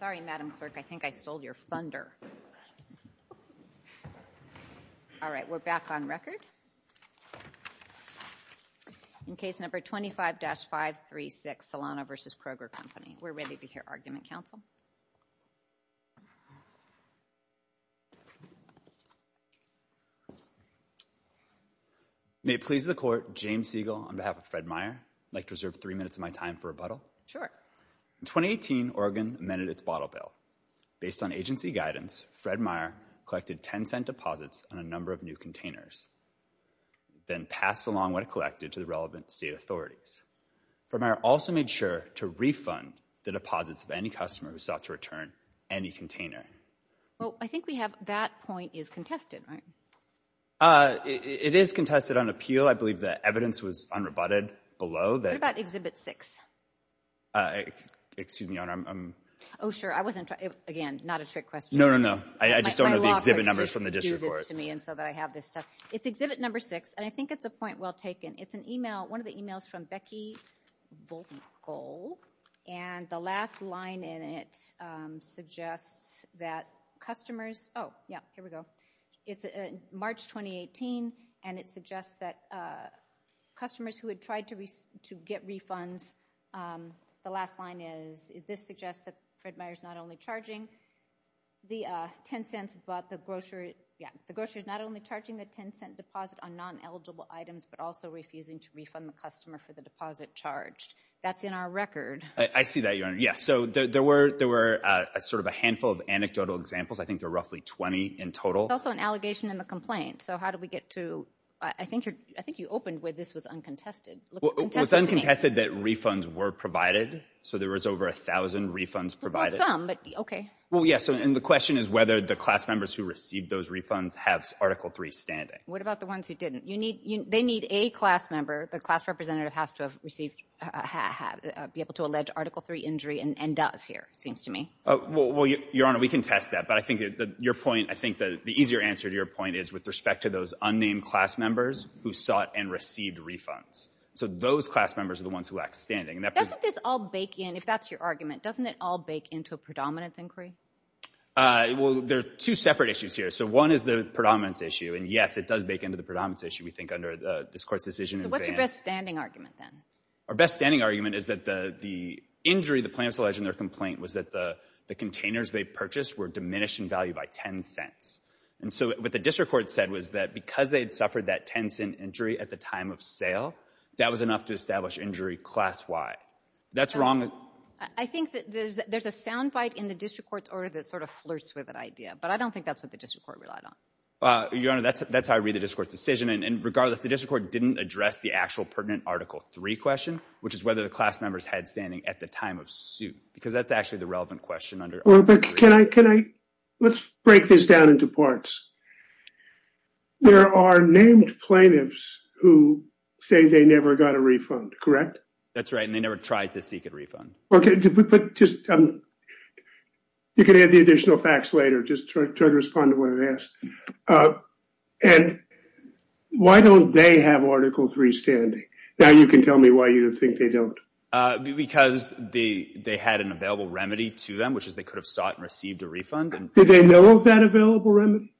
May it please the Court, James Siegel on behalf of Fred Meyer. I'd like to reserve three minutes of my time for rebuttal. Sure. In 2018, Oregon amended its bottle bill. Based on agency guidance, Fred Meyer collected 10-cent deposits on a number of new containers, then passed along what he collected to the relevant state authorities. Fred Meyer also made sure to refund the deposits of any customer who sought to return any container. Well, I think we have that point is contested, right? It is contested on appeal. I believe the evidence was unrebutted below that. What Exhibit 6? Excuse me, Your Honor. Oh, sure. I wasn't trying, again, not a trick question. No, no, no. I just don't know the exhibit numbers from the district. And so that I have this stuff. It's Exhibit Number 6, and I think it's a point well taken. It's an email, one of the emails from Becky Bogle, and the last line in it suggests that customers, oh, yeah, here we go. It's March 2018, and it suggests that customers who had tried to get refunds, the last line is, this suggests that Fred Meyer's not only charging the 10 cents, but the grocer, yeah, the grocer's not only charging the 10-cent deposit on non-eligible items, but also refusing to refund the customer for the deposit charged. That's in our record. I see that, Your Honor. Yeah, so there were, there were a sort of a handful of anecdotal examples. I think there were roughly 20 in total. There's also an allegation in the complaint. So how do we get to, I think you're, I think you opened with this was uncontested. Well, it's uncontested that refunds were provided. So there was over a thousand refunds provided. Well, some, but, okay. Well, yes, and the question is whether the class members who received those refunds have Article 3 standing. What about the ones who didn't? You need, they need a class member, the class representative has to have received, be able to allege Article 3 injury and does here, it seems to me. Well, Your Honor, we can test that. But I think that your point, I think that the easier answer to your point is with respect to those unnamed class members who sought and received refunds. So those class members are the ones who lack standing. Doesn't this all bake in, if that's your argument, doesn't it all bake into a predominance inquiry? Well, there are two separate issues here. So one is the predominance issue. And yes, it does bake into the predominance issue, we think, under this Court's decision. So what's your best standing argument then? Our best standing argument is that the, the injury the plaintiffs alleged in their complaint was that the, the containers they purchased were diminished in value by 10 cents. And so what the district court said was that because they had suffered that 10 cent injury at the time of sale, that was enough to establish injury class Y. That's wrong. I think that there's, there's a soundbite in the district court's order that sort of flirts with that idea. But I don't think that's what the district court relied on. Your Honor, that's, that's how I read the district court's decision. And regardless, the district court didn't address the actual pertinent Article 3 question, which is whether the class members had standing at the time of suit. Because that's actually the relevant question under Article 3. Well, but can I, can I, let's break this down into parts. There are named plaintiffs who say they never got a refund, correct? That's right, and they never tried to seek a refund. Okay, but just, you can add the additional facts later, just try to respond to what I've asked. And why don't they have Article 3 standing? Now you can which is they could have sought and received a refund. Did they know of that available remedy?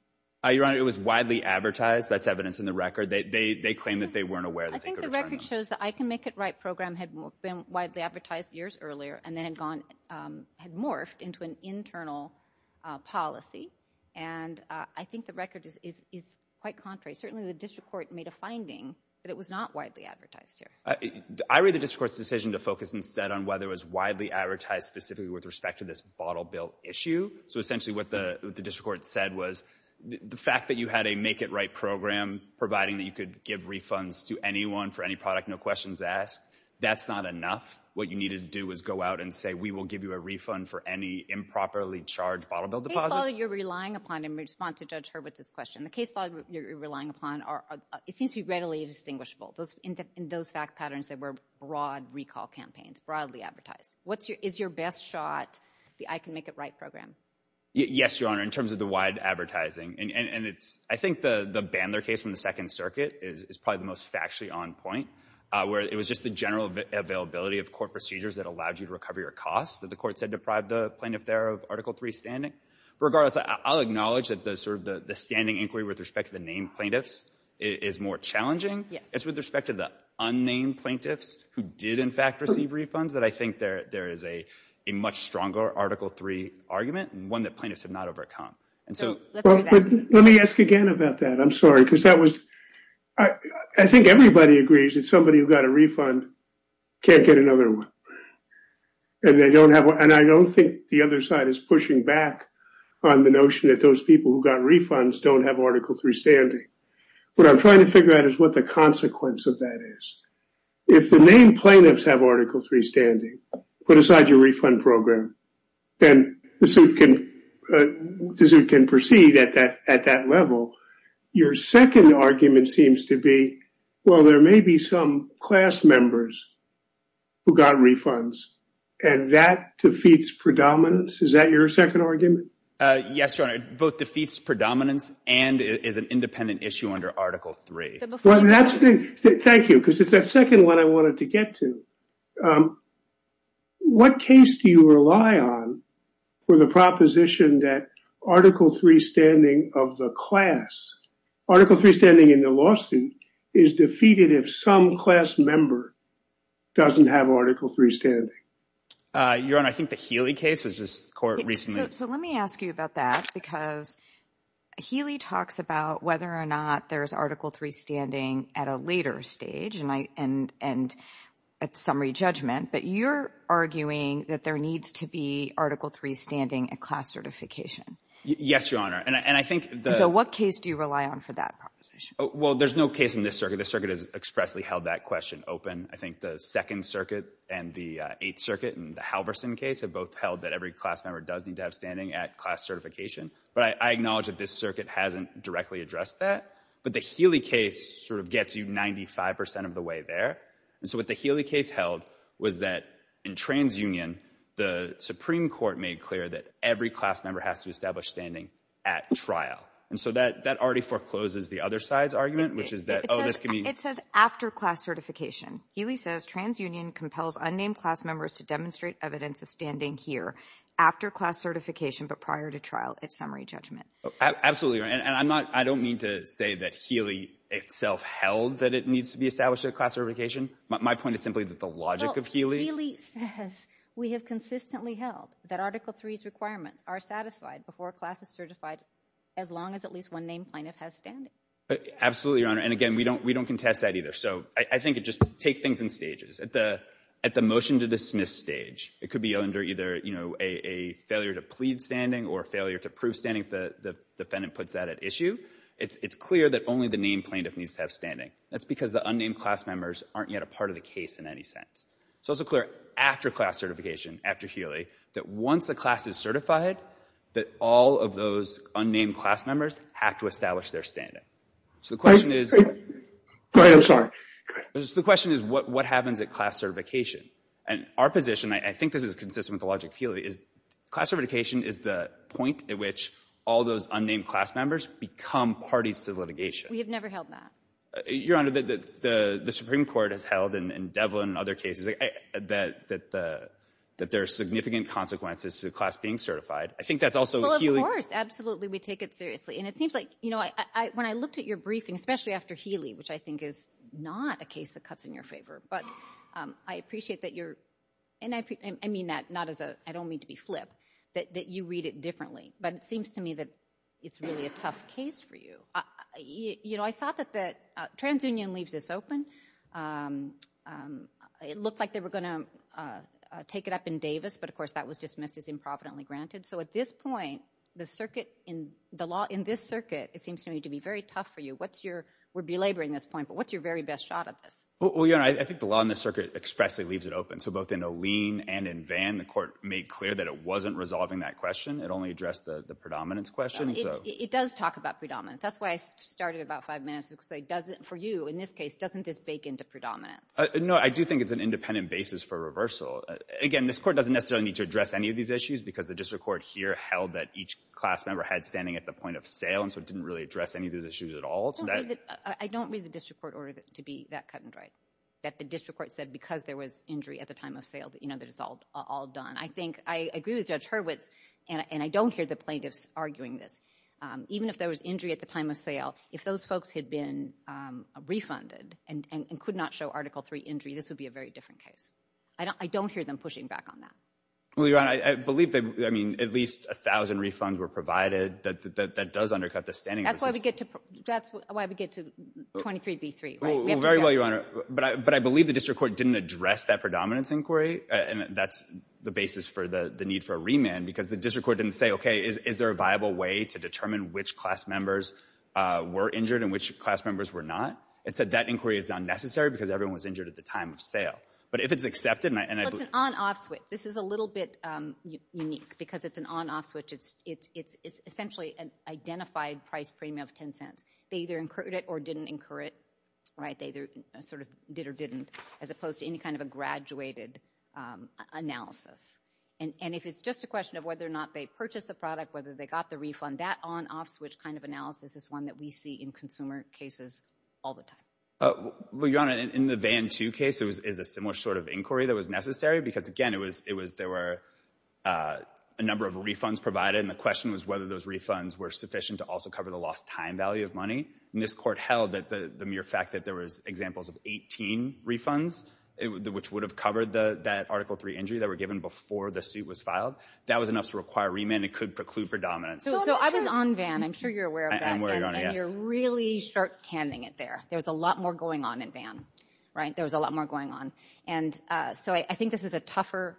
Your Honor, it was widely advertised. That's evidence in the record. They, they, they claim that they weren't aware that they could return them. I think the record shows that I Can Make It Right program had been widely advertised years earlier and then had gone, had morphed into an internal policy. And I think the record is, is, is quite contrary. Certainly the district court made a finding that it was not widely advertised here. I read the district court's decision to focus instead on whether it was widely advertised specifically with respect to this bottle bill issue. So essentially what the district court said was the fact that you had a Make It Right program providing that you could give refunds to anyone for any product, no questions asked, that's not enough. What you needed to do was go out and say, we will give you a refund for any improperly charged bottle bill deposits. The case law that you're relying upon, and I just want to judge her with this question, the case law you're relying upon are, it seems to be readily distinguishable. Those, in those fact patterns, they were broad recall campaigns, broadly advertised. What's your, is your best shot the I Can Make It Right program? Yes, Your Honor. In terms of the wide advertising, and, and it's, I think the, the Bandler case from the Second Circuit is, is probably the most factually on point, where it was just the general availability of court procedures that allowed you to recover your costs that the court said deprived the plaintiff there of Article III standing. Regardless, I'll acknowledge that the sort of the, the standing inquiry with respect to the named plaintiffs is more challenging. It's with respect to the unnamed plaintiffs who did in fact receive refunds that I think there, there is a, a much stronger Article III argument, and one that plaintiffs have not overcome. And so, let me ask again about that. I'm sorry, because that was, I think everybody agrees that somebody who got a refund can't get another one, and they don't have one, and I don't think the other side is pushing back on the notion that those people who got refunds don't have Article III standing. What I'm trying to figure out is what the consequence of that is. If the named plaintiffs have Article III standing, put aside your refund program, then the suit can, the suit can proceed at that, at that level. Your second argument seems to be, well, there may be some class members who got refunds, and that defeats predominance. Is that your second argument? Uh, yes, Your Honor. It both defeats predominance and is an independent issue under Article III. Well, that's the, thank you, because it's that second one I wanted to get to. Um, what case do you rely on for the proposition that Article III standing of the class, Article III standing in the lawsuit, is defeated if some class member doesn't have Article III standing? Uh, Your Honor, I think the Healy case was just court recently. So, let me ask you about that, because Healy talks about whether or not there's Article III standing at a later stage, and I, and, and at summary judgment, but you're arguing that there needs to be Article III standing at class certification. Yes, Your Honor, and I, and I think the. So, what case do you rely on for that proposition? Well, there's no case in this circuit. The circuit has expressly held that question open. I think the Second Circuit and the Eighth Circuit and the Halverson case have both held that every class member does need to have standing at class certification, but I, I acknowledge that this circuit hasn't directly addressed that, but the Healy case sort of gets you 95% of the way there, and so what the Healy case held was that in TransUnion, the Supreme Court made clear that every class member has to establish standing at trial, and so that, that already forecloses the other side's argument, which is that, oh, this can be. It says after class certification. Healy says TransUnion compels unnamed class members to demonstrate evidence of standing here after class certification, but prior to trial at summary judgment. Absolutely, and I'm not, I don't mean to say that Healy itself held that it needs to be established at class certification. My point is simply that the logic of Healy. Healy says we have consistently held that Article III's requirements are satisfied before a class is certified as long as at least one named plaintiff has standing. Absolutely, Your Honor, and again, we don't, we don't contest that either, so I, I think it just, take things in stages. At the, at the motion to dismiss stage, it could be under either, you know, a, a failure to plead standing or failure to prove standing if the, the defendant puts that at issue. It's, it's clear that only the named plaintiff needs to have standing. That's because the unnamed class members aren't yet a part of the case in any sense. It's also clear after class certification, after Healy, that once the class is certified, that all of those unnamed class members have to establish their standing. So the question is... Go ahead, I'm sorry. The question is what, what happens at class certification? And our position, I, I think this is consistent with the logic of Healy, is class certification is the point at which all those unnamed class members become parties to the litigation. We have never held that. Your Honor, the, the, the Supreme Court has held in, in Devlin and other cases that, that the, that there are significant consequences to the class being certified. I think that's also what Healy... Well, of course, absolutely, we take it seriously. And it seems like, you know, when I looked at your briefing, especially after Healy, which I think is not a case that cuts in your favor, but I appreciate that you're, and I, I mean that not as a, I don't mean to be flip, that, that you read it differently, but it seems to me that it's really a tough case for you. You know, I thought that the TransUnion leaves this open. It looked like they were going to take it up in Davis, but of course that was dismissed as improvidently granted. So at this point, the circuit in the law, in this circuit, it seems to me to be very tough for you. What's your, we're belaboring this point, but what's your very best shot at this? Well, Your Honor, I think the law in the circuit expressly leaves it open. So both in O'Lean and in Vann, the court made clear that it wasn't resolving that question. It only addressed the, the predominance question. It does talk about predominance. That's why I started about five minutes ago. So it doesn't, for you, in this case, doesn't this bake into predominance? No, I do think it's an independent basis for reversal. Again, this court doesn't necessarily need to address any of these issues because the each class member had standing at the point of sale. And so it didn't really address any of those issues at all. I don't read the district court order to be that cut and dried that the district court said, because there was injury at the time of sale that, you know, that it's all, all done. I think I agree with Judge Hurwitz and I don't hear the plaintiffs arguing this. Even if there was injury at the time of sale, if those folks had been refunded and could not show article three injury, this would be a very different case. I don't, I don't hear them pushing back on that. Well, Your Honor, I believe they, I mean, at least a thousand refunds were provided that, that, that does undercut the standing. That's why we get to, that's why we get to 23B3, right? Very well, Your Honor. But I, but I believe the district court didn't address that predominance inquiry. And that's the basis for the, the need for a remand because the district court didn't say, okay, is there a viable way to determine which class members were injured and which class members were not? It said that inquiry is unnecessary because everyone was injured at the time of sale. But if it's accepted, and I. Well, it's an on-off switch. This is a little bit unique because it's an on-off switch. It's, it's, it's essentially an identified price premium of 10 cents. They either incurred it or didn't incur it, right? They either sort of did or didn't, as opposed to any kind of a graduated analysis. And, and if it's just a question of whether or not they purchased the product, whether they got the refund, that on-off switch kind of analysis is one that we see in consumer cases all the time. Well, Your Honor, in the Vann 2 case, it was, is a similar sort of inquiry that was necessary because, again, it was, it was, there were a number of refunds provided. And the question was whether those refunds were sufficient to also cover the lost time value of money. And this court held that the mere fact that there was examples of 18 refunds, which would have covered the, that Article 3 injury that were given before the suit was filed, that was enough to require remand. It could preclude predominance. So I was on Vann. I'm sure you're aware of that. I'm aware, Your Honor, yes. And you're really short-handing it there. There was a lot more going on in Vann, right? There was a lot more going on. And so I think this is a tougher,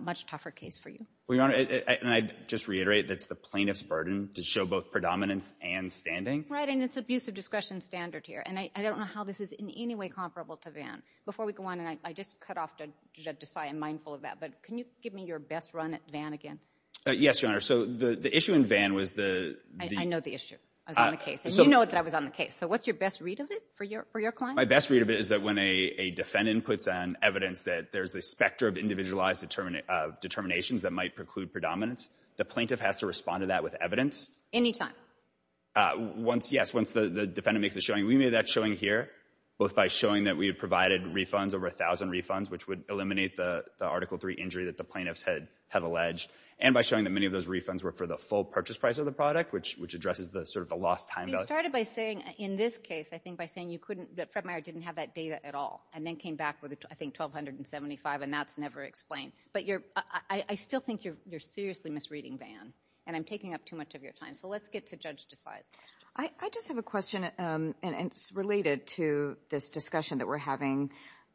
much tougher case for you. Well, Your Honor, and I'd just reiterate, that's the plaintiff's burden to show both predominance and standing. Right, and it's abusive discretion standard here. And I don't know how this is in any way comparable to Vann. Before we go on, and I just cut off to Desai, I'm mindful of that, but can you give me your run at Vann again? Yes, Your Honor. So the issue in Vann was the... I know the issue. I was on the case. And you know that I was on the case. So what's your best read of it for your client? My best read of it is that when a defendant puts on evidence that there's a specter of individualized determinations that might preclude predominance, the plaintiff has to respond to that with evidence. Any time? Once, yes, once the defendant makes a showing. We made that showing here, both by showing that we had provided refunds, over a thousand refunds, which would eliminate the Article 3 injury that the plaintiffs had have alleged, and by showing that many of those refunds were for the full purchase price of the product, which addresses the sort of the lost time. You started by saying, in this case, I think by saying you couldn't, that Fred Meyer didn't have that data at all, and then came back with, I think, $1,275, and that's never explained. But you're, I still think you're seriously misreading Vann, and I'm taking up too much of your time. So let's get to Judge Desai's question. I just have a question, and it's related to this discussion that we're having.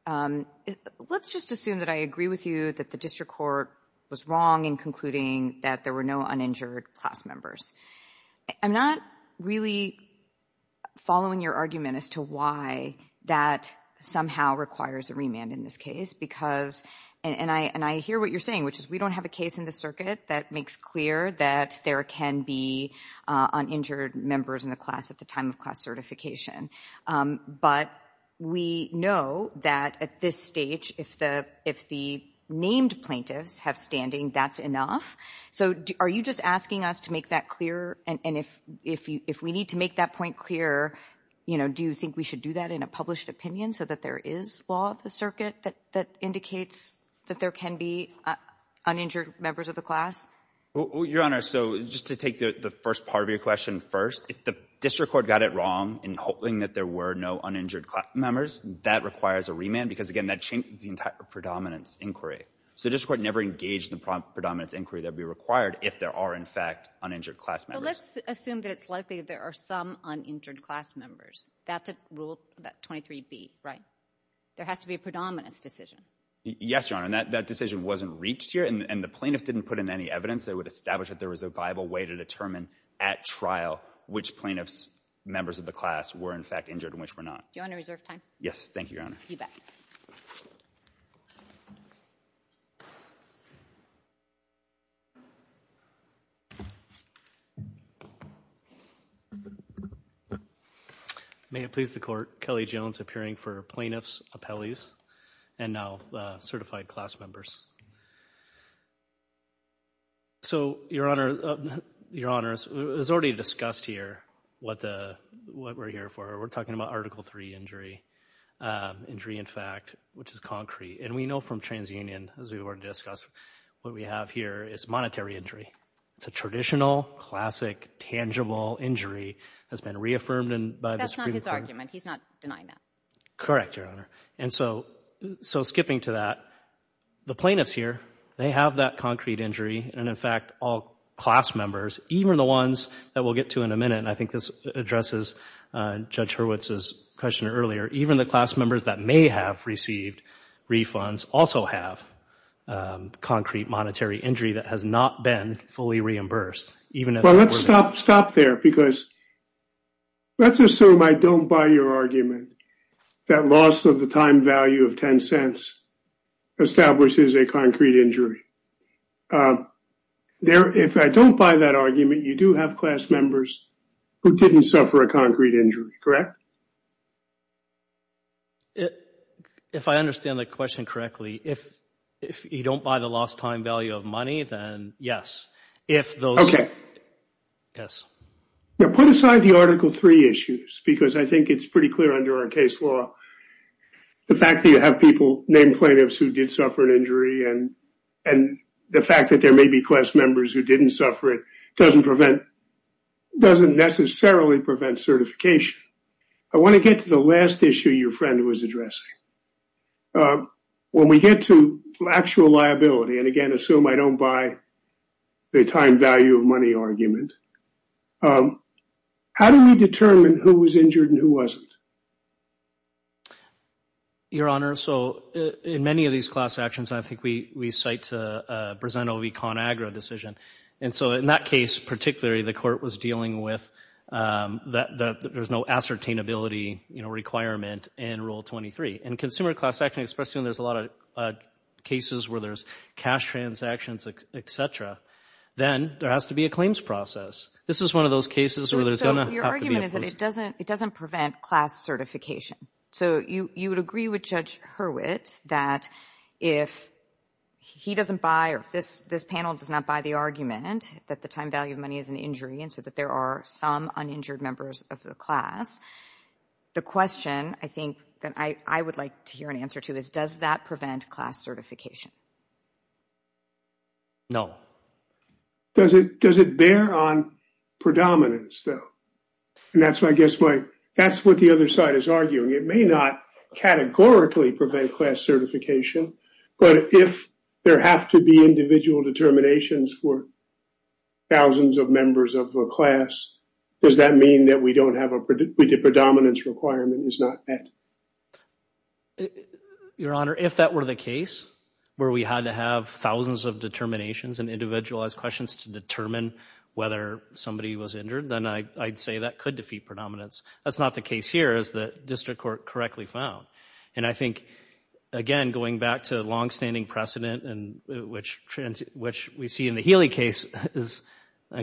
Let's just assume that I agree with you that the district court was wrong in concluding that there were no uninjured class members. I'm not really following your argument as to why that somehow requires a remand in this case, because, and I hear what you're saying, which is we don't have a case in the circuit that makes clear that there can be uninjured members in the class at the time of class certification. But we know that at this stage, if the named plaintiffs have standing, that's enough. So are you just asking us to make that clear? And if we need to make that point clear, you know, do you think we should do that in a published opinion so that there is law of the circuit that indicates that there can be uninjured members of the class? Your Honor, so just to take the first part of your question first, if the district court got it wrong in hoping that there were no uninjured class members, that requires a remand, because, again, that changes the entire predominance inquiry. So the district court never engaged the predominance inquiry that would be required if there are, in fact, uninjured class members. Well, let's assume that it's likely there are some uninjured class members. That's rule 23B, right? There has to be a predominance decision. Yes, Your Honor, and that decision wasn't reached here, and the plaintiffs didn't put in any evidence that would establish that there was a viable way to determine at trial which plaintiffs members of the class were, in fact, injured and which were not. Do you want to reserve time? Yes, thank you, Your Honor. You bet. May it please the Court, Kelly Jones appearing for plaintiffs, appellees, and now certified class members. So, Your Honor, it was already discussed here what we're here for. We're talking about Article III injury, injury in fact, which is concrete, and we know from TransUnion, as we've already discussed, what we have here is monetary injury. It's a traditional, classic, tangible injury that's been reaffirmed by the Supreme Court. That's not his argument. He's not denying that. Correct, Your Honor, and so skipping to that, the plaintiffs here, they have that concrete injury, and in fact, all class members, even the ones that we'll get to in a minute, and I think this addresses Judge Hurwitz's question earlier, even the class members that may have received refunds also have concrete monetary injury that has not been fully reimbursed. Well, let's stop there because let's assume I don't buy your argument that loss of the time value of 10 cents establishes a concrete injury. If I don't buy that argument, you do have class members who didn't suffer a concrete injury, correct? If I understand the question correctly, if you don't buy the lost time value of money, then yes. Put aside the Article 3 issues because I think it's pretty clear under our case law, the fact that you have people named plaintiffs who did suffer an injury and the fact that there may be class members who didn't suffer it doesn't necessarily prevent certification. I want to get to the last issue your friend was addressing. When we get to actual liability, and again, assume I don't buy the time value of money argument, how do we determine who was injured and who wasn't? Your Honor, so in many of these class actions, I think we cite Brezeno v. ConAgra decision, and so in that case particularly, the court was dealing with that there's no ascertainability, you know, requirement in Rule 23. In consumer class action, especially when there's a lot of cases where there's cash transactions, etc., then there has to be a claims process. This is one of those cases where there's going to have to be a process. Your argument is that it doesn't prevent class certification. So you would agree with Judge Hurwitz that if he doesn't buy or this panel does not buy the argument that the time value of money is an injury and so that there are some uninjured members of the class, the question I think that I would like to hear an answer to is does that prevent class certification? No. Does it bear on predominance though? And that's what I guess my, that's what the other side is arguing. It may not categorically prevent class certification, but if there have to be individual determinations for thousands of members of a class, does that mean that we don't have a predominance requirement is not met? Your Honor, if that were the case where we had to have thousands of determinations and individualized questions to determine whether somebody was injured, then I'd say that could defeat predominance. That's not the case here as the district court correctly found. And I think, again, going back to the longstanding precedent and which, which we see in the Healy case is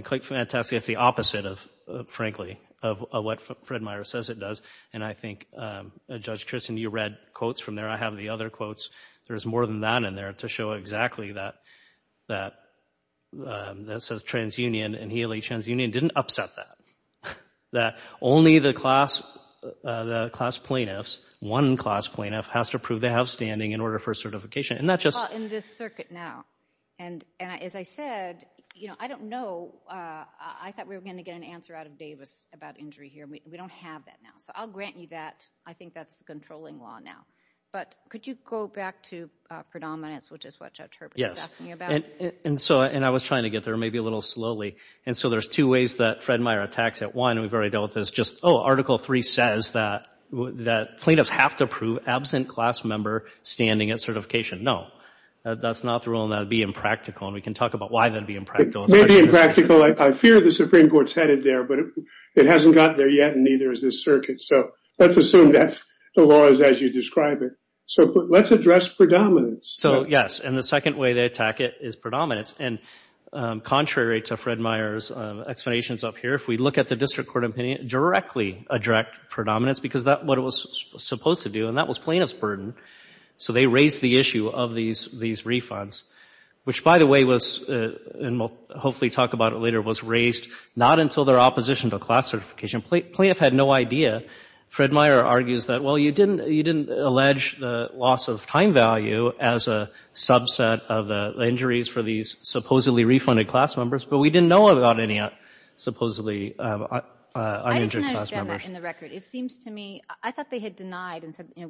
quite fantastic. It's the opposite of, frankly, of what Fred Meyer says it does. And I think Judge Christen, you read quotes from there. I have the other quotes. There's more than that in there to show exactly that, that, that says transunion and Healy transunion didn't upset that. That only the class, the class plaintiffs, one class plaintiff has to prove they have standing in order for certification. And that's just. Well, in this circuit now, and, and as I said, you know, I don't know. I thought we were going to get an answer out of Davis about injury here. We don't have that now. So I'll grant you that. I think that's the controlling law now, but could you go back to predominance, which is what Judge Herbert is asking about. And so, and I was trying to get there maybe a little slowly. And so there's two ways that Fred Meyer attacks it. One, we've already dealt with this just, oh, article three says that, that plaintiffs have to prove absent class member standing at certification. No, that's not the rule. And that'd be impractical. And we can talk about why that'd be impractical. It may be impractical. I fear the Supreme Court's headed there, but it hasn't gotten there yet. And neither is this circuit. So let's assume that's the laws as you describe it. So let's address predominance. So yes. And the second way they attack it is predominance. And contrary to Fred Meyer's explanations up here, if we look at the district court opinion directly, a direct predominance, because that what it was supposed to do, and that was plaintiff's burden. So they raised the issue of these, these refunds, which by the way was, and we'll hopefully talk about it later, was raised not until their opposition to class certification. Plaintiff had no idea. Fred Meyer argues that, well, you didn't, you didn't allege the loss of time value as a subset of the injuries for these supposedly refunded class members. But we didn't know about any supposedly uninjured class members. I didn't understand that in the record. It seems to me, I thought they had denied and said, you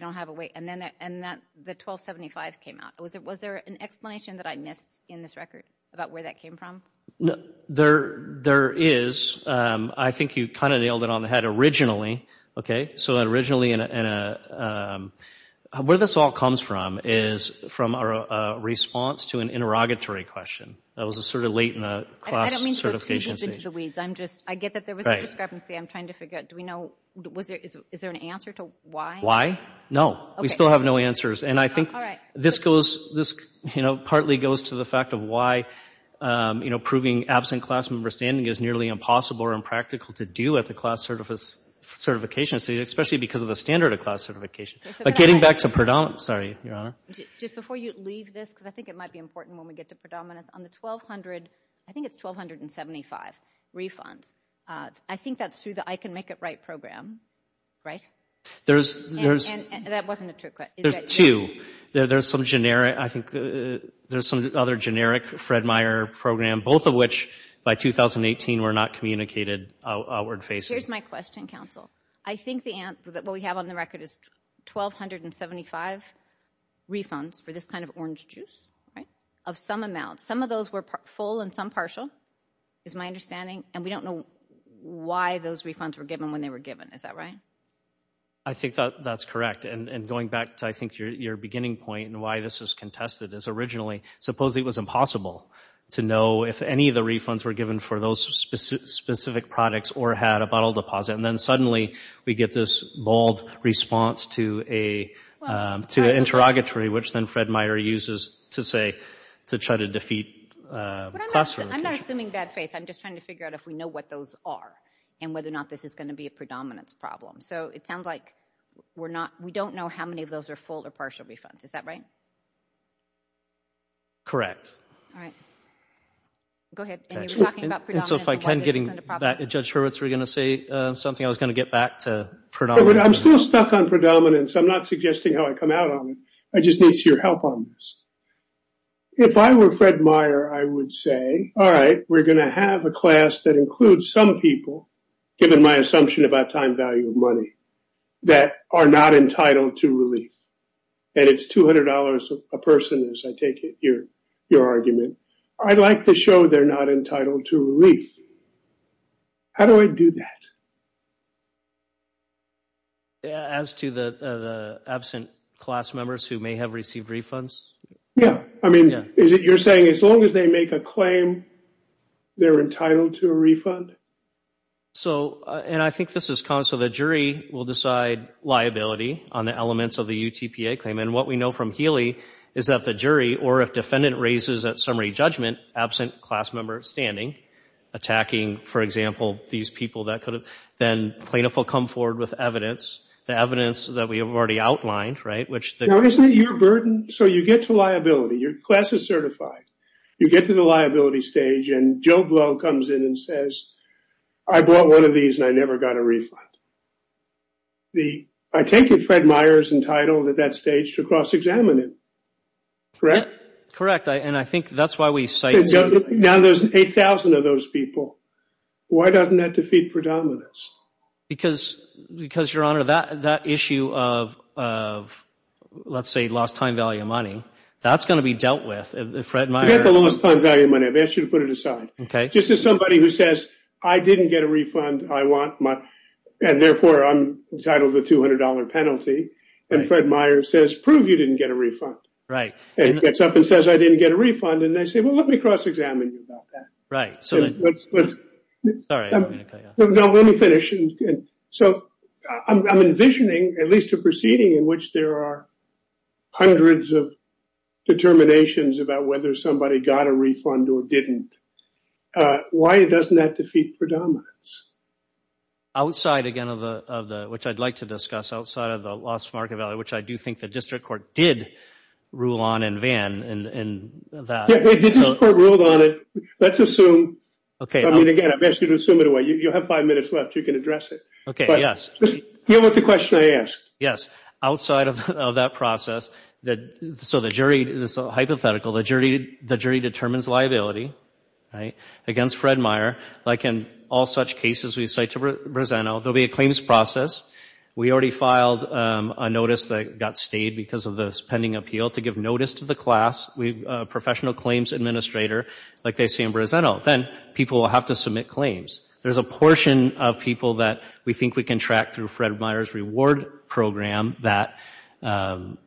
don't have a weight. And then, and that, the 1275 came out. Was there, was there an explanation that I missed in this record about where that came from? No, there, there is. I think you kind of nailed it on the head originally. Okay. So originally in a, where this all comes from is from a response to an interrogatory question. That was a sort of late in the class certification stage. I don't mean to dig into the weeds. I'm just, I get that there was a discrepancy. I'm trying to We still have no answers. And I think this goes, this, you know, partly goes to the fact of why, you know, proving absent class member standing is nearly impossible or impractical to do at the class certification, especially because of the standard of class certification. But getting back to predominance, sorry, Your Honor. Just before you leave this, because I think it might be important when we get to predominance, on the 1200, I think it's 1275 refunds. I think that's the I Can Make It Right program, right? There's, there's, that wasn't a trick question. There's two. There's some generic, I think there's some other generic Fred Meyer program, both of which by 2018 were not communicated outward facing. Here's my question, counsel. I think the answer that what we have on the record is 1275 refunds for this kind of orange juice, right? Of some amount. Some of those were full and some partial, is my understanding. And we don't know why those refunds were given when they were given, is that right? I think that that's correct. And going back to, I think, your beginning point and why this is contested is originally, suppose it was impossible to know if any of the refunds were given for those specific products or had a bottle deposit, and then suddenly we get this bold response to a, to an interrogatory, which then Fred Meyer uses to say, to try to defeat class certification. I'm not assuming bad faith. I'm just trying to figure out if we know what those are and whether or not this is going to be a predominance problem. So it sounds like we're not, we don't know how many of those are full or partial refunds. Is that right? Correct. All right. Go ahead. And you were talking about predominance. And so if I can, getting back to Judge Hurwitz, were you going to say something I was going to get back to predominance? I'm still stuck on predominance. I'm not suggesting how I come out on it. I just need your help on this. If I were Fred Meyer, I would say, all right, we're going to have a class that includes some people, given my assumption about time value of money, that are not entitled to relief. And it's $200 a person, as I take it, your argument. I'd like to show they're not entitled to relief. How do I do that? As to the absent class members who may have received refunds? Yeah. I mean, you're saying as long as they make a claim, they're entitled to a refund? So, and I think this is common. So the jury will decide liability on the elements of the UTPA claim. And what we know from Healy is that the jury, or if defendant raises at summary judgment, absent class member standing, attacking, for example, these people that could have then plaintiff will come forward with evidence, the evidence that we have already outlined, right? Now isn't it your burden? So you get to liability, your class is certified. You get to the liability stage and Joe Blow comes in and says, I bought one of these and I never got a refund. The, I take it Fred Meyer's entitled at that stage to cross-examine it. Correct? Correct. And I think that's why we cite. Now there's 8,000 of those people. Why doesn't that defeat predominance? Because, because your honor, that, that issue of, of let's say lost time value of money, that's going to be dealt with. If Fred Meyer. You got the lowest time value of money. I've asked you to put it aside. Okay. Just as somebody who says, I didn't get a refund. I want my, and therefore I'm entitled to a $200 penalty. And Fred Meyer says, prove you didn't get a refund. Right. And he gets up and says, I didn't get a refund. And they say, well, let me cross-examine about that. Right. Sorry. No, let me finish. So I'm envisioning at least a proceeding in which there are hundreds of determinations about whether somebody got a refund or didn't. Why doesn't that defeat predominance? Outside again of the, of the, which I'd like to discuss outside of the lost market value, which I do think the district court did rule on in Van and that. Let's assume. Okay. I mean, again, I've asked you to assume it away. You have five minutes left. You can address it. Okay. Yes. Deal with the question I asked. Yes. Outside of that process that, so the jury, this hypothetical, the jury, the jury determines liability. Right. Against Fred Meyer, like in all such cases, we say to present, there'll be a claims process. We already filed a notice that got stayed because of this pending appeal to give notice to the class. We, a professional claims administrator, like they say in Briseno, then people will have to submit claims. There's a portion of people that we think we can track through Fred Meyer's reward program that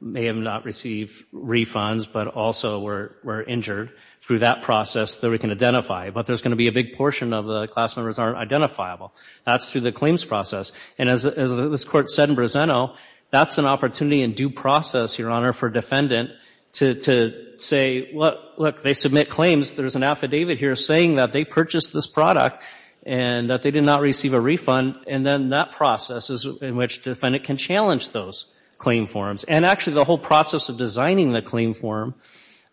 may have not received refunds, but also were, were injured through that process that we can identify. But there's going to be a big portion of the class members aren't identifiable. That's through the claims process. And as, as this court said in Briseno, that's an opportunity in due process, Your Honor, for defendant to, to say, well, look, they submit claims. There's an affidavit here saying that they purchased this product and that they did not receive a refund. And then that process is in which defendant can challenge those claim forms. And actually the whole process of designing the claim form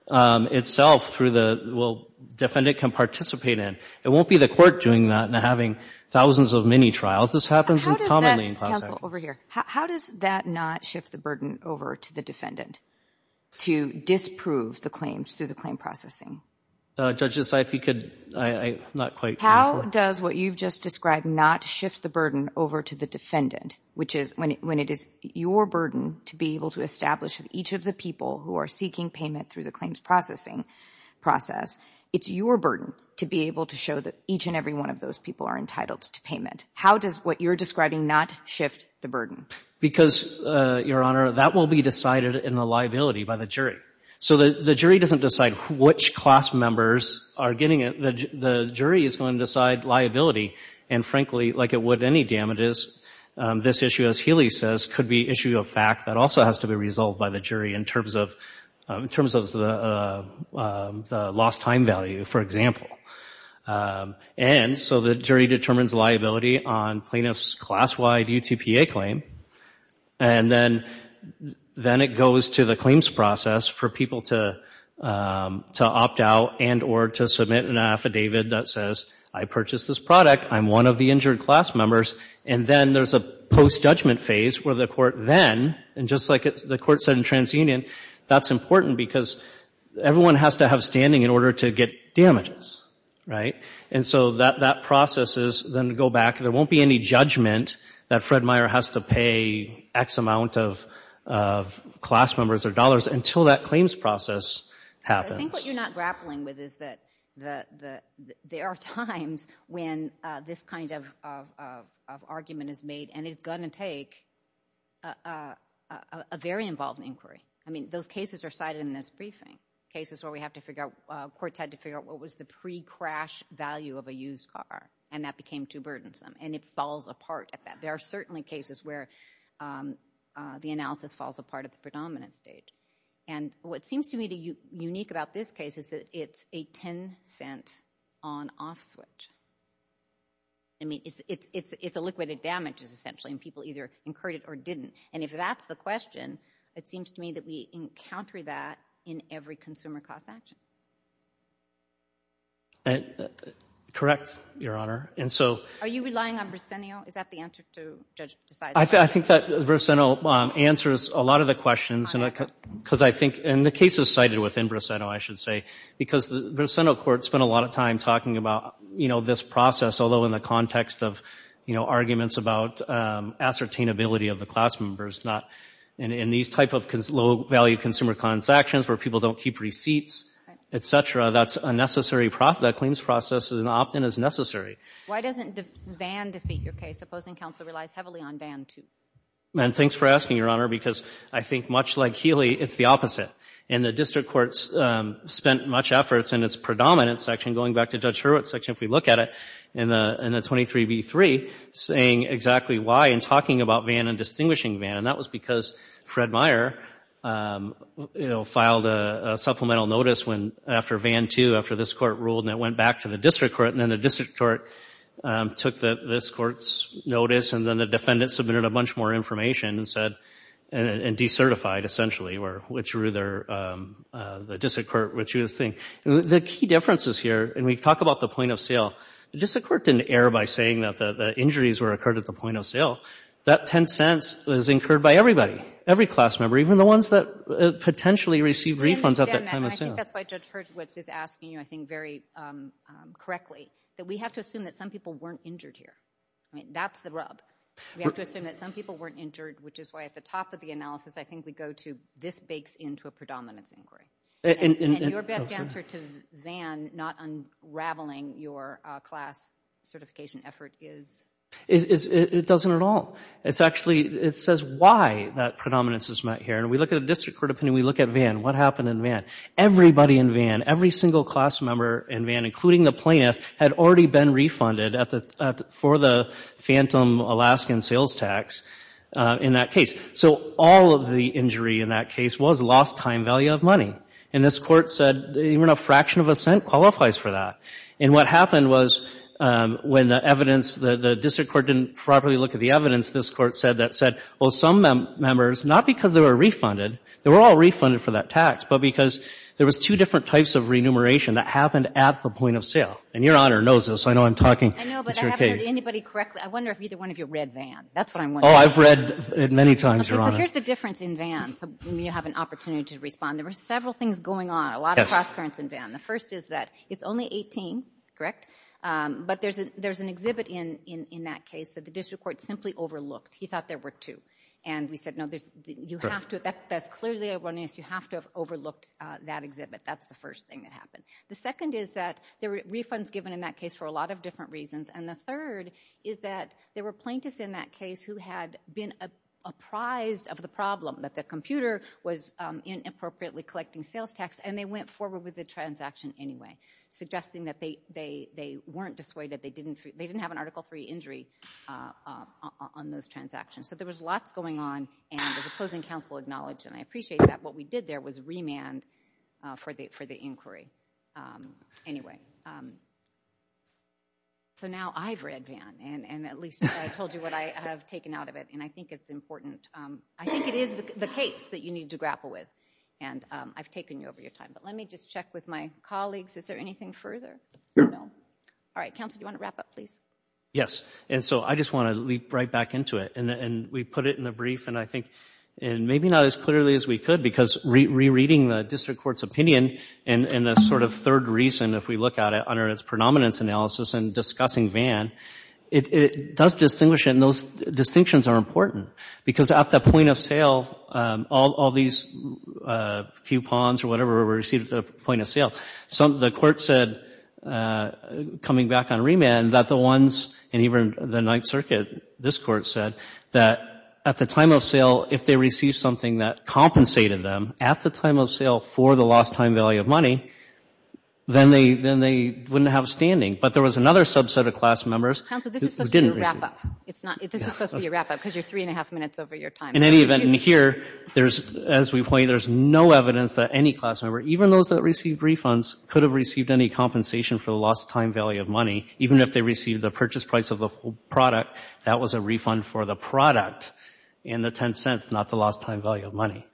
itself through the, well, defendant can participate in. It won't be the court doing that and having thousands of mini trials. This happens. Counsel, over here. How does that not shift the burden over to the defendant to disprove the claims through the claim processing? Judges, if you could, I'm not quite. How does what you've just described not shift the burden over to the defendant, which is when, when it is your burden to be able to establish each of the people who are seeking payment through the claims processing process, it's your burden to be able to show that each and every one of those people are entitled to payment. How does what you're describing not shift the burden? Because, Your Honor, that will be decided in the liability by the jury. So the jury doesn't decide which class members are getting it. The jury is going to decide liability. And frankly, like it would any damages, this issue, as Healy says, could be issue of fact that also has to be resolved by the jury in terms of, in terms of the lost time value, for example. And so the jury determines liability on plaintiff's class-wide UTPA claim. And then, then it goes to the claims process for people to, to opt out and or to submit an affidavit that says, I purchased this product. I'm one of the injured class members. And then there's a post-judgment phase where the court then, and just like the court said in TransUnion, that's important because everyone has to have standing in order to get damages, right? And so that, that process is then to go back. There won't be any judgment that Fred Meyer has to pay X amount of, of class members or dollars until that claims process happens. I think what you're not grappling with is that the, the, there are times when this kind of, of argument is made and it's going to take a, a, a very involved inquiry. I mean, those cases are cited in this briefing. Cases where we have to figure out, courts had to figure out what was the pre-crash value of a used car and that became too burdensome. And it falls apart at that. There are certainly cases where the analysis falls apart at the predominant stage. And what seems to me to you, unique about this case is that it's a 10 cent on off switch. I mean, it's, it's, it's, it's a liquid of damages essentially, and people either incurred it or didn't. And if that's the question, it seems to me that we encounter that in every consumer class action. Correct, Your Honor. And so... Are you relying on Brisenio? Is that the answer to Judge DeSantis? I think that Brisenio answers a lot of the questions. Because I think, and the case is cited within Brisenio, I should say, because the Brisenio court spent a lot of time talking about, you know, this process, although in the context of, you know, arguments about ascertainability of the class members, not, and, and these type of low value consumer class actions where people don't keep receipts, et cetera, that's a necessary process, that claims process is an opt-in is necessary. Why doesn't Van defeat your case, supposing counsel relies heavily on Van too? And thanks for asking, Your Honor, because I think much like Healy, it's the opposite. And the district courts spent much efforts in its predominant section, going back to Judge Hurwitz' section, if we look at it, in the, in the 23b-3, saying exactly why and talking about Van and distinguishing Van, and that was because Fred Meyer, you know, filed a supplemental notice when, after Van too, after this court ruled, and it went back to the district court, and then the district court took the, this court's notice, and then the defendant submitted a bunch more information and said, and, and decertified, essentially, or which were their, the district court, which you're seeing. The key differences here, and we talk about the point of sale, the district court didn't err by saying that the, the injuries were occurred at the point of sale. That $0.10 was incurred by everybody, every class member, even the ones that potentially received refunds at that time of sale. I think that's why Judge Hurwitz is asking you, I think, very correctly, that we have to assume that some people weren't injured here. I mean, that's the rub. We have to assume that some people weren't injured, which is why, at the top of the analysis, I think we go to, this bakes into a predominance inquiry. And, and, and your best answer to Van not unraveling your class certification effort is, is, is, it doesn't at all. It's actually, it says why that predominance is met here, and we look at the district court opinion, we look at Van, what happened in Van? Everybody in Van, every single class member in Van, including the plaintiff, had already been refunded at the, for the phantom Alaskan sales tax in that case. So, all of the injury in that case was lost time value of money. And this Court said, even a fraction of a cent qualifies for that. And what happened was, when the evidence, the, the district court didn't properly look at the evidence, this Court said, that said, well, some members, not because they were refunded, they were all refunded for that tax, but because there was two different types of remuneration that happened at the point of sale. And your Honor knows this, I know I'm talking, it's your case. I know, but I haven't heard anybody correctly. I wonder if either one of you read Van. That's what I'm wondering. Oh, I've read it many times, Your Honor. Okay, so here's the difference in Van, so you have an opportunity to respond. There were several things going on, a lot of cross-currents in Van. The first is that, it's only 18, correct? But there's a, there's an exhibit in, in, in that case that the district court simply overlooked. He thought there were two. And we said, no, there's, you have to, that's, that's clearly a runniness, you have to have overlooked that exhibit. That's the first thing that happened. The second is that there were refunds given in that case for a lot of different reasons. And the third is that there were plaintiffs in that case who had been apprised of the problem, that the computer was inappropriately collecting sales tax, and they went forward with the transaction anyway, suggesting that they, they, they weren't dissuaded. They didn't, they didn't have an article three injury on those transactions. So there was lots going on, and the opposing counsel acknowledged, and I appreciate that what we did there was remand for the, for the inquiry. Anyway, so now I've read Vann, and, and at least I told you what I have taken out of it, and I think it's important, I think it is the case that you need to grapple with, and I've taken you over your time. But let me just check with my colleagues. Is there anything further? All right, counsel, do you want to wrap up, please? Yes, and so I just want to leap right back into it. And, and we put it in the brief, and I think, and maybe not as clearly as we could, because rereading the district court's opinion and, and the sort of third reason, if we look at it, under its predominance analysis and discussing Vann, it, it does distinguish, and those distinctions are important. Because at the point of sale, all, all these coupons or whatever were received at the point of sale, some, the court said, coming back on remand, that the ones, and even the Ninth Circuit, this court said, that at the time of sale, if they received something that compensated them at the time of sale for the lost time value of money, then they, then they wouldn't have standing. But there was another subset of class members who didn't receive it. Counsel, this is supposed to be a wrap-up. It's not, this is supposed to be a wrap-up, because you're three and a half minutes over your time. In any event, and here, there's, as we point, there's no evidence that any class member, even those that received refunds, could have received any compensation for the lost time value of money, even if they received the purchase price of the product, that was a refund for the product, and the 10 cents, not the lost time value of money.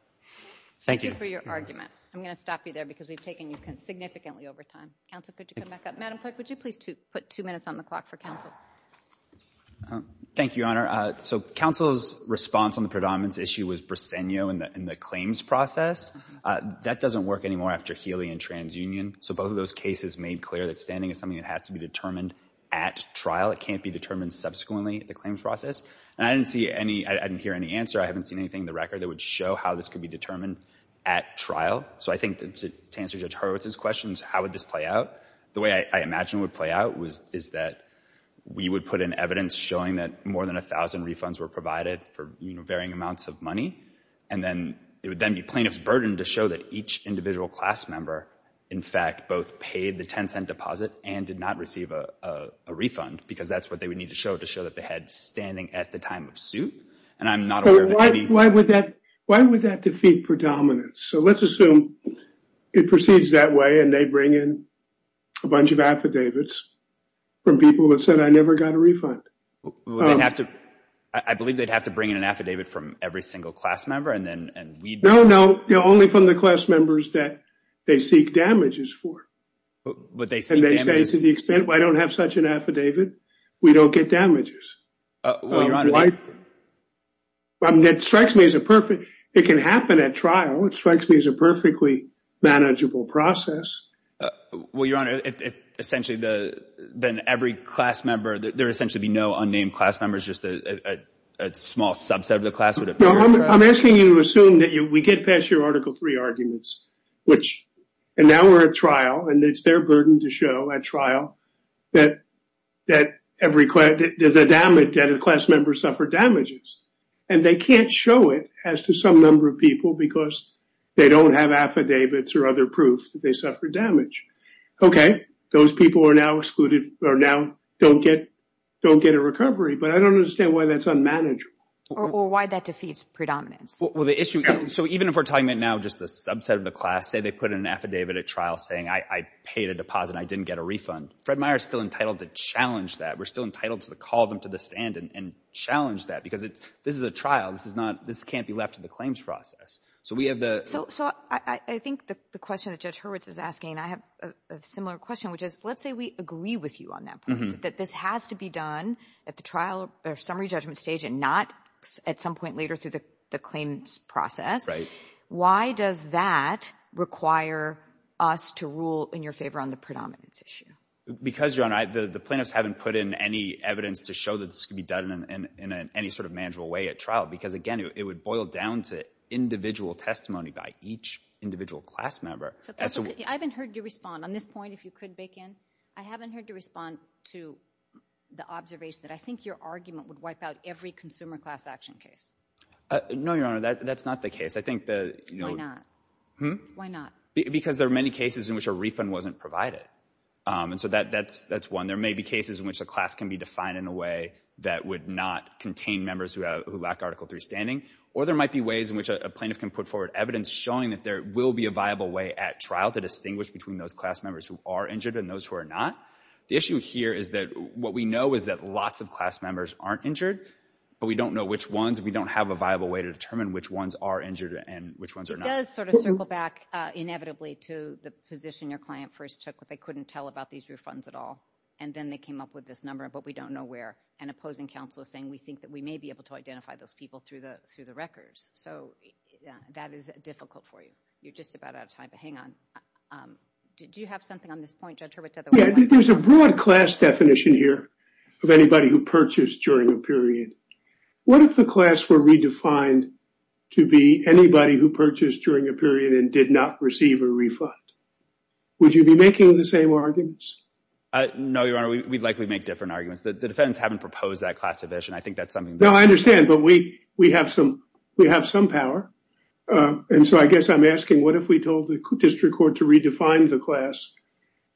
Thank you. Thank you for your argument. I'm going to stop you there, because we've taken you significantly over time. Counsel, could you come back up? Madam Clerk, would you please put two minutes on the clock for counsel? Thank you, Your Honor. So, counsel's response on the predominance issue was Bresenio in the claims process. That doesn't work anymore after Healy and TransUnion. So, both of those cases made clear that standing is something that has to be determined at trial. It can't be determined subsequently, the claims process. And I didn't see any, I didn't hear any answer. I haven't seen anything in the record that would show how this could be determined at trial. So, I think to answer Judge Horowitz's questions, how would this play out? The way I imagine it would play out is that we would put in evidence showing that more than 1,000 refunds were provided for varying amounts of money, and then it would then be plaintiff's burden to show that each individual class member, in fact, both paid the 10 cent deposit and did not receive a refund, because that's what they would need to show to show that they had standing at the time of suit. And I'm not aware of any— Why would that defeat predominance? So, let's assume it proceeds that way, and they bring in a bunch of affidavits from people that said, I never got a refund. I believe they'd have to bring in an affidavit from every single class member, and then we'd— No, no. Only from the class members that they seek damages for. But they seek damages— And they say, to the extent I don't have such an affidavit, we don't get damages. Well, Your Honor, they— I mean, it strikes me as a perfect— It can happen at trial. It strikes me as a perfectly manageable process. Well, Your Honor, if essentially the— Then every class member— There would essentially be no unnamed class members, just a small subset of the class would appear at trial? I'm asking you to assume that we get past your Article III arguments, which— And now we're at trial, and it's their burden to show at trial that every class— that a class member suffered damages. And they can't show it as to some number of people because they don't have affidavits or other proof that they suffered damage. Okay, those people are now excluded, or now don't get a recovery. But I don't understand why that's unmanageable. Or why that defeats predominance. Well, the issue— So even if we're talking about now just a subset of the class, say they put in an affidavit at trial saying, I paid a deposit, I didn't get a refund, Fred Meyer's still entitled to challenge that. We're still entitled to call them to the stand and challenge that. Because this is a trial. This is not— this can't be left to the claims process. So we have the— So I think the question that Judge Hurwitz is asking, I have a similar question, which is, let's say we agree with you on that point, that this has to be done at the trial or summary judgment stage and not at some point later through the claims process. Right. Why does that require us to rule in your favor on the predominance issue? Because, Your Honor, the plaintiffs haven't put in any evidence to show that this could be done in any sort of manageable way at trial. Because, again, it would boil down to individual testimony by each individual class member. I haven't heard you respond. On this point, if you could, bake in. I haven't heard you respond to the observation that I think your argument would wipe out every consumer class action case. No, Your Honor, that's not the case. I think the— Why not? Why not? Because there are many cases in which a refund wasn't provided. And so that's one. There may be cases in which a class can be defined in a way that would not contain members who lack Article III standing. Or there might be ways in which a plaintiff can put forward evidence showing that there will be a viable way at trial to distinguish between those class members who are injured and those who are not. The issue here is that what we know is that lots of class members aren't injured, but we don't know which ones. We don't have a viable way to determine which ones are injured and which ones are not. It does sort of circle back inevitably to the position your client first took, but they couldn't tell about these refunds at all. And then they came up with this number, but we don't know where. And opposing counsel is saying we think that we may be able to identify those people through the records. So, yeah, that is difficult for you. You're just about out of time. But hang on. Do you have something on this point, Judge Hurwitz? Yeah, there's a broad class definition here of anybody who purchased during a period. What if the class were redefined to be anybody who purchased during a period and did not receive a refund? Would you be making the same arguments? No, Your Honor. We'd likely make different arguments. The defense haven't proposed that classification. I think that's something. No, I understand. But we have some power. And so I guess I'm asking, what if we told the district court to redefine the class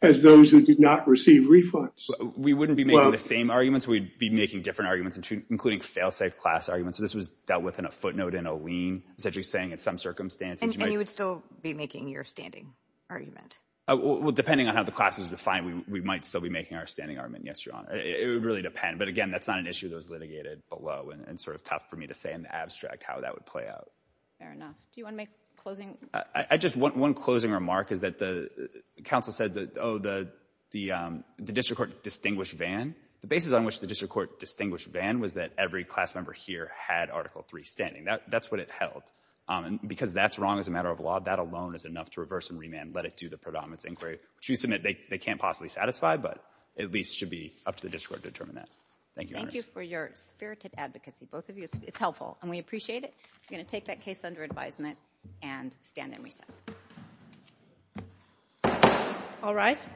as those who did not receive refunds? We wouldn't be making the same arguments. We'd be making different arguments, including fail-safe class arguments. So this was dealt with in a footnote in a lien, essentially saying in some circumstances And you would still be making your standing argument? Oh, well, depending on how the class is defined, we might still be making our standing argument. Yes, Your Honor. It would really depend. But again, that's not an issue that was litigated below. And it's sort of tough for me to say in the abstract how that would play out. Fair enough. Do you want to make closing? One closing remark is that the counsel said that, oh, the district court distinguished Vann. The basis on which the district court distinguished Vann was that every class member here had Article III standing. That's what it held. Because that's wrong as a matter of law. That alone is enough to reverse and remand, let it do the predominance inquiry, which we submit they can't possibly satisfy, but at least should be up to the district court to determine that. Thank you, Your Honor. Thank you for your spirited advocacy, both of you. It's helpful. And we appreciate it. I'm going to take that case under advisement and stand in recess. All rise.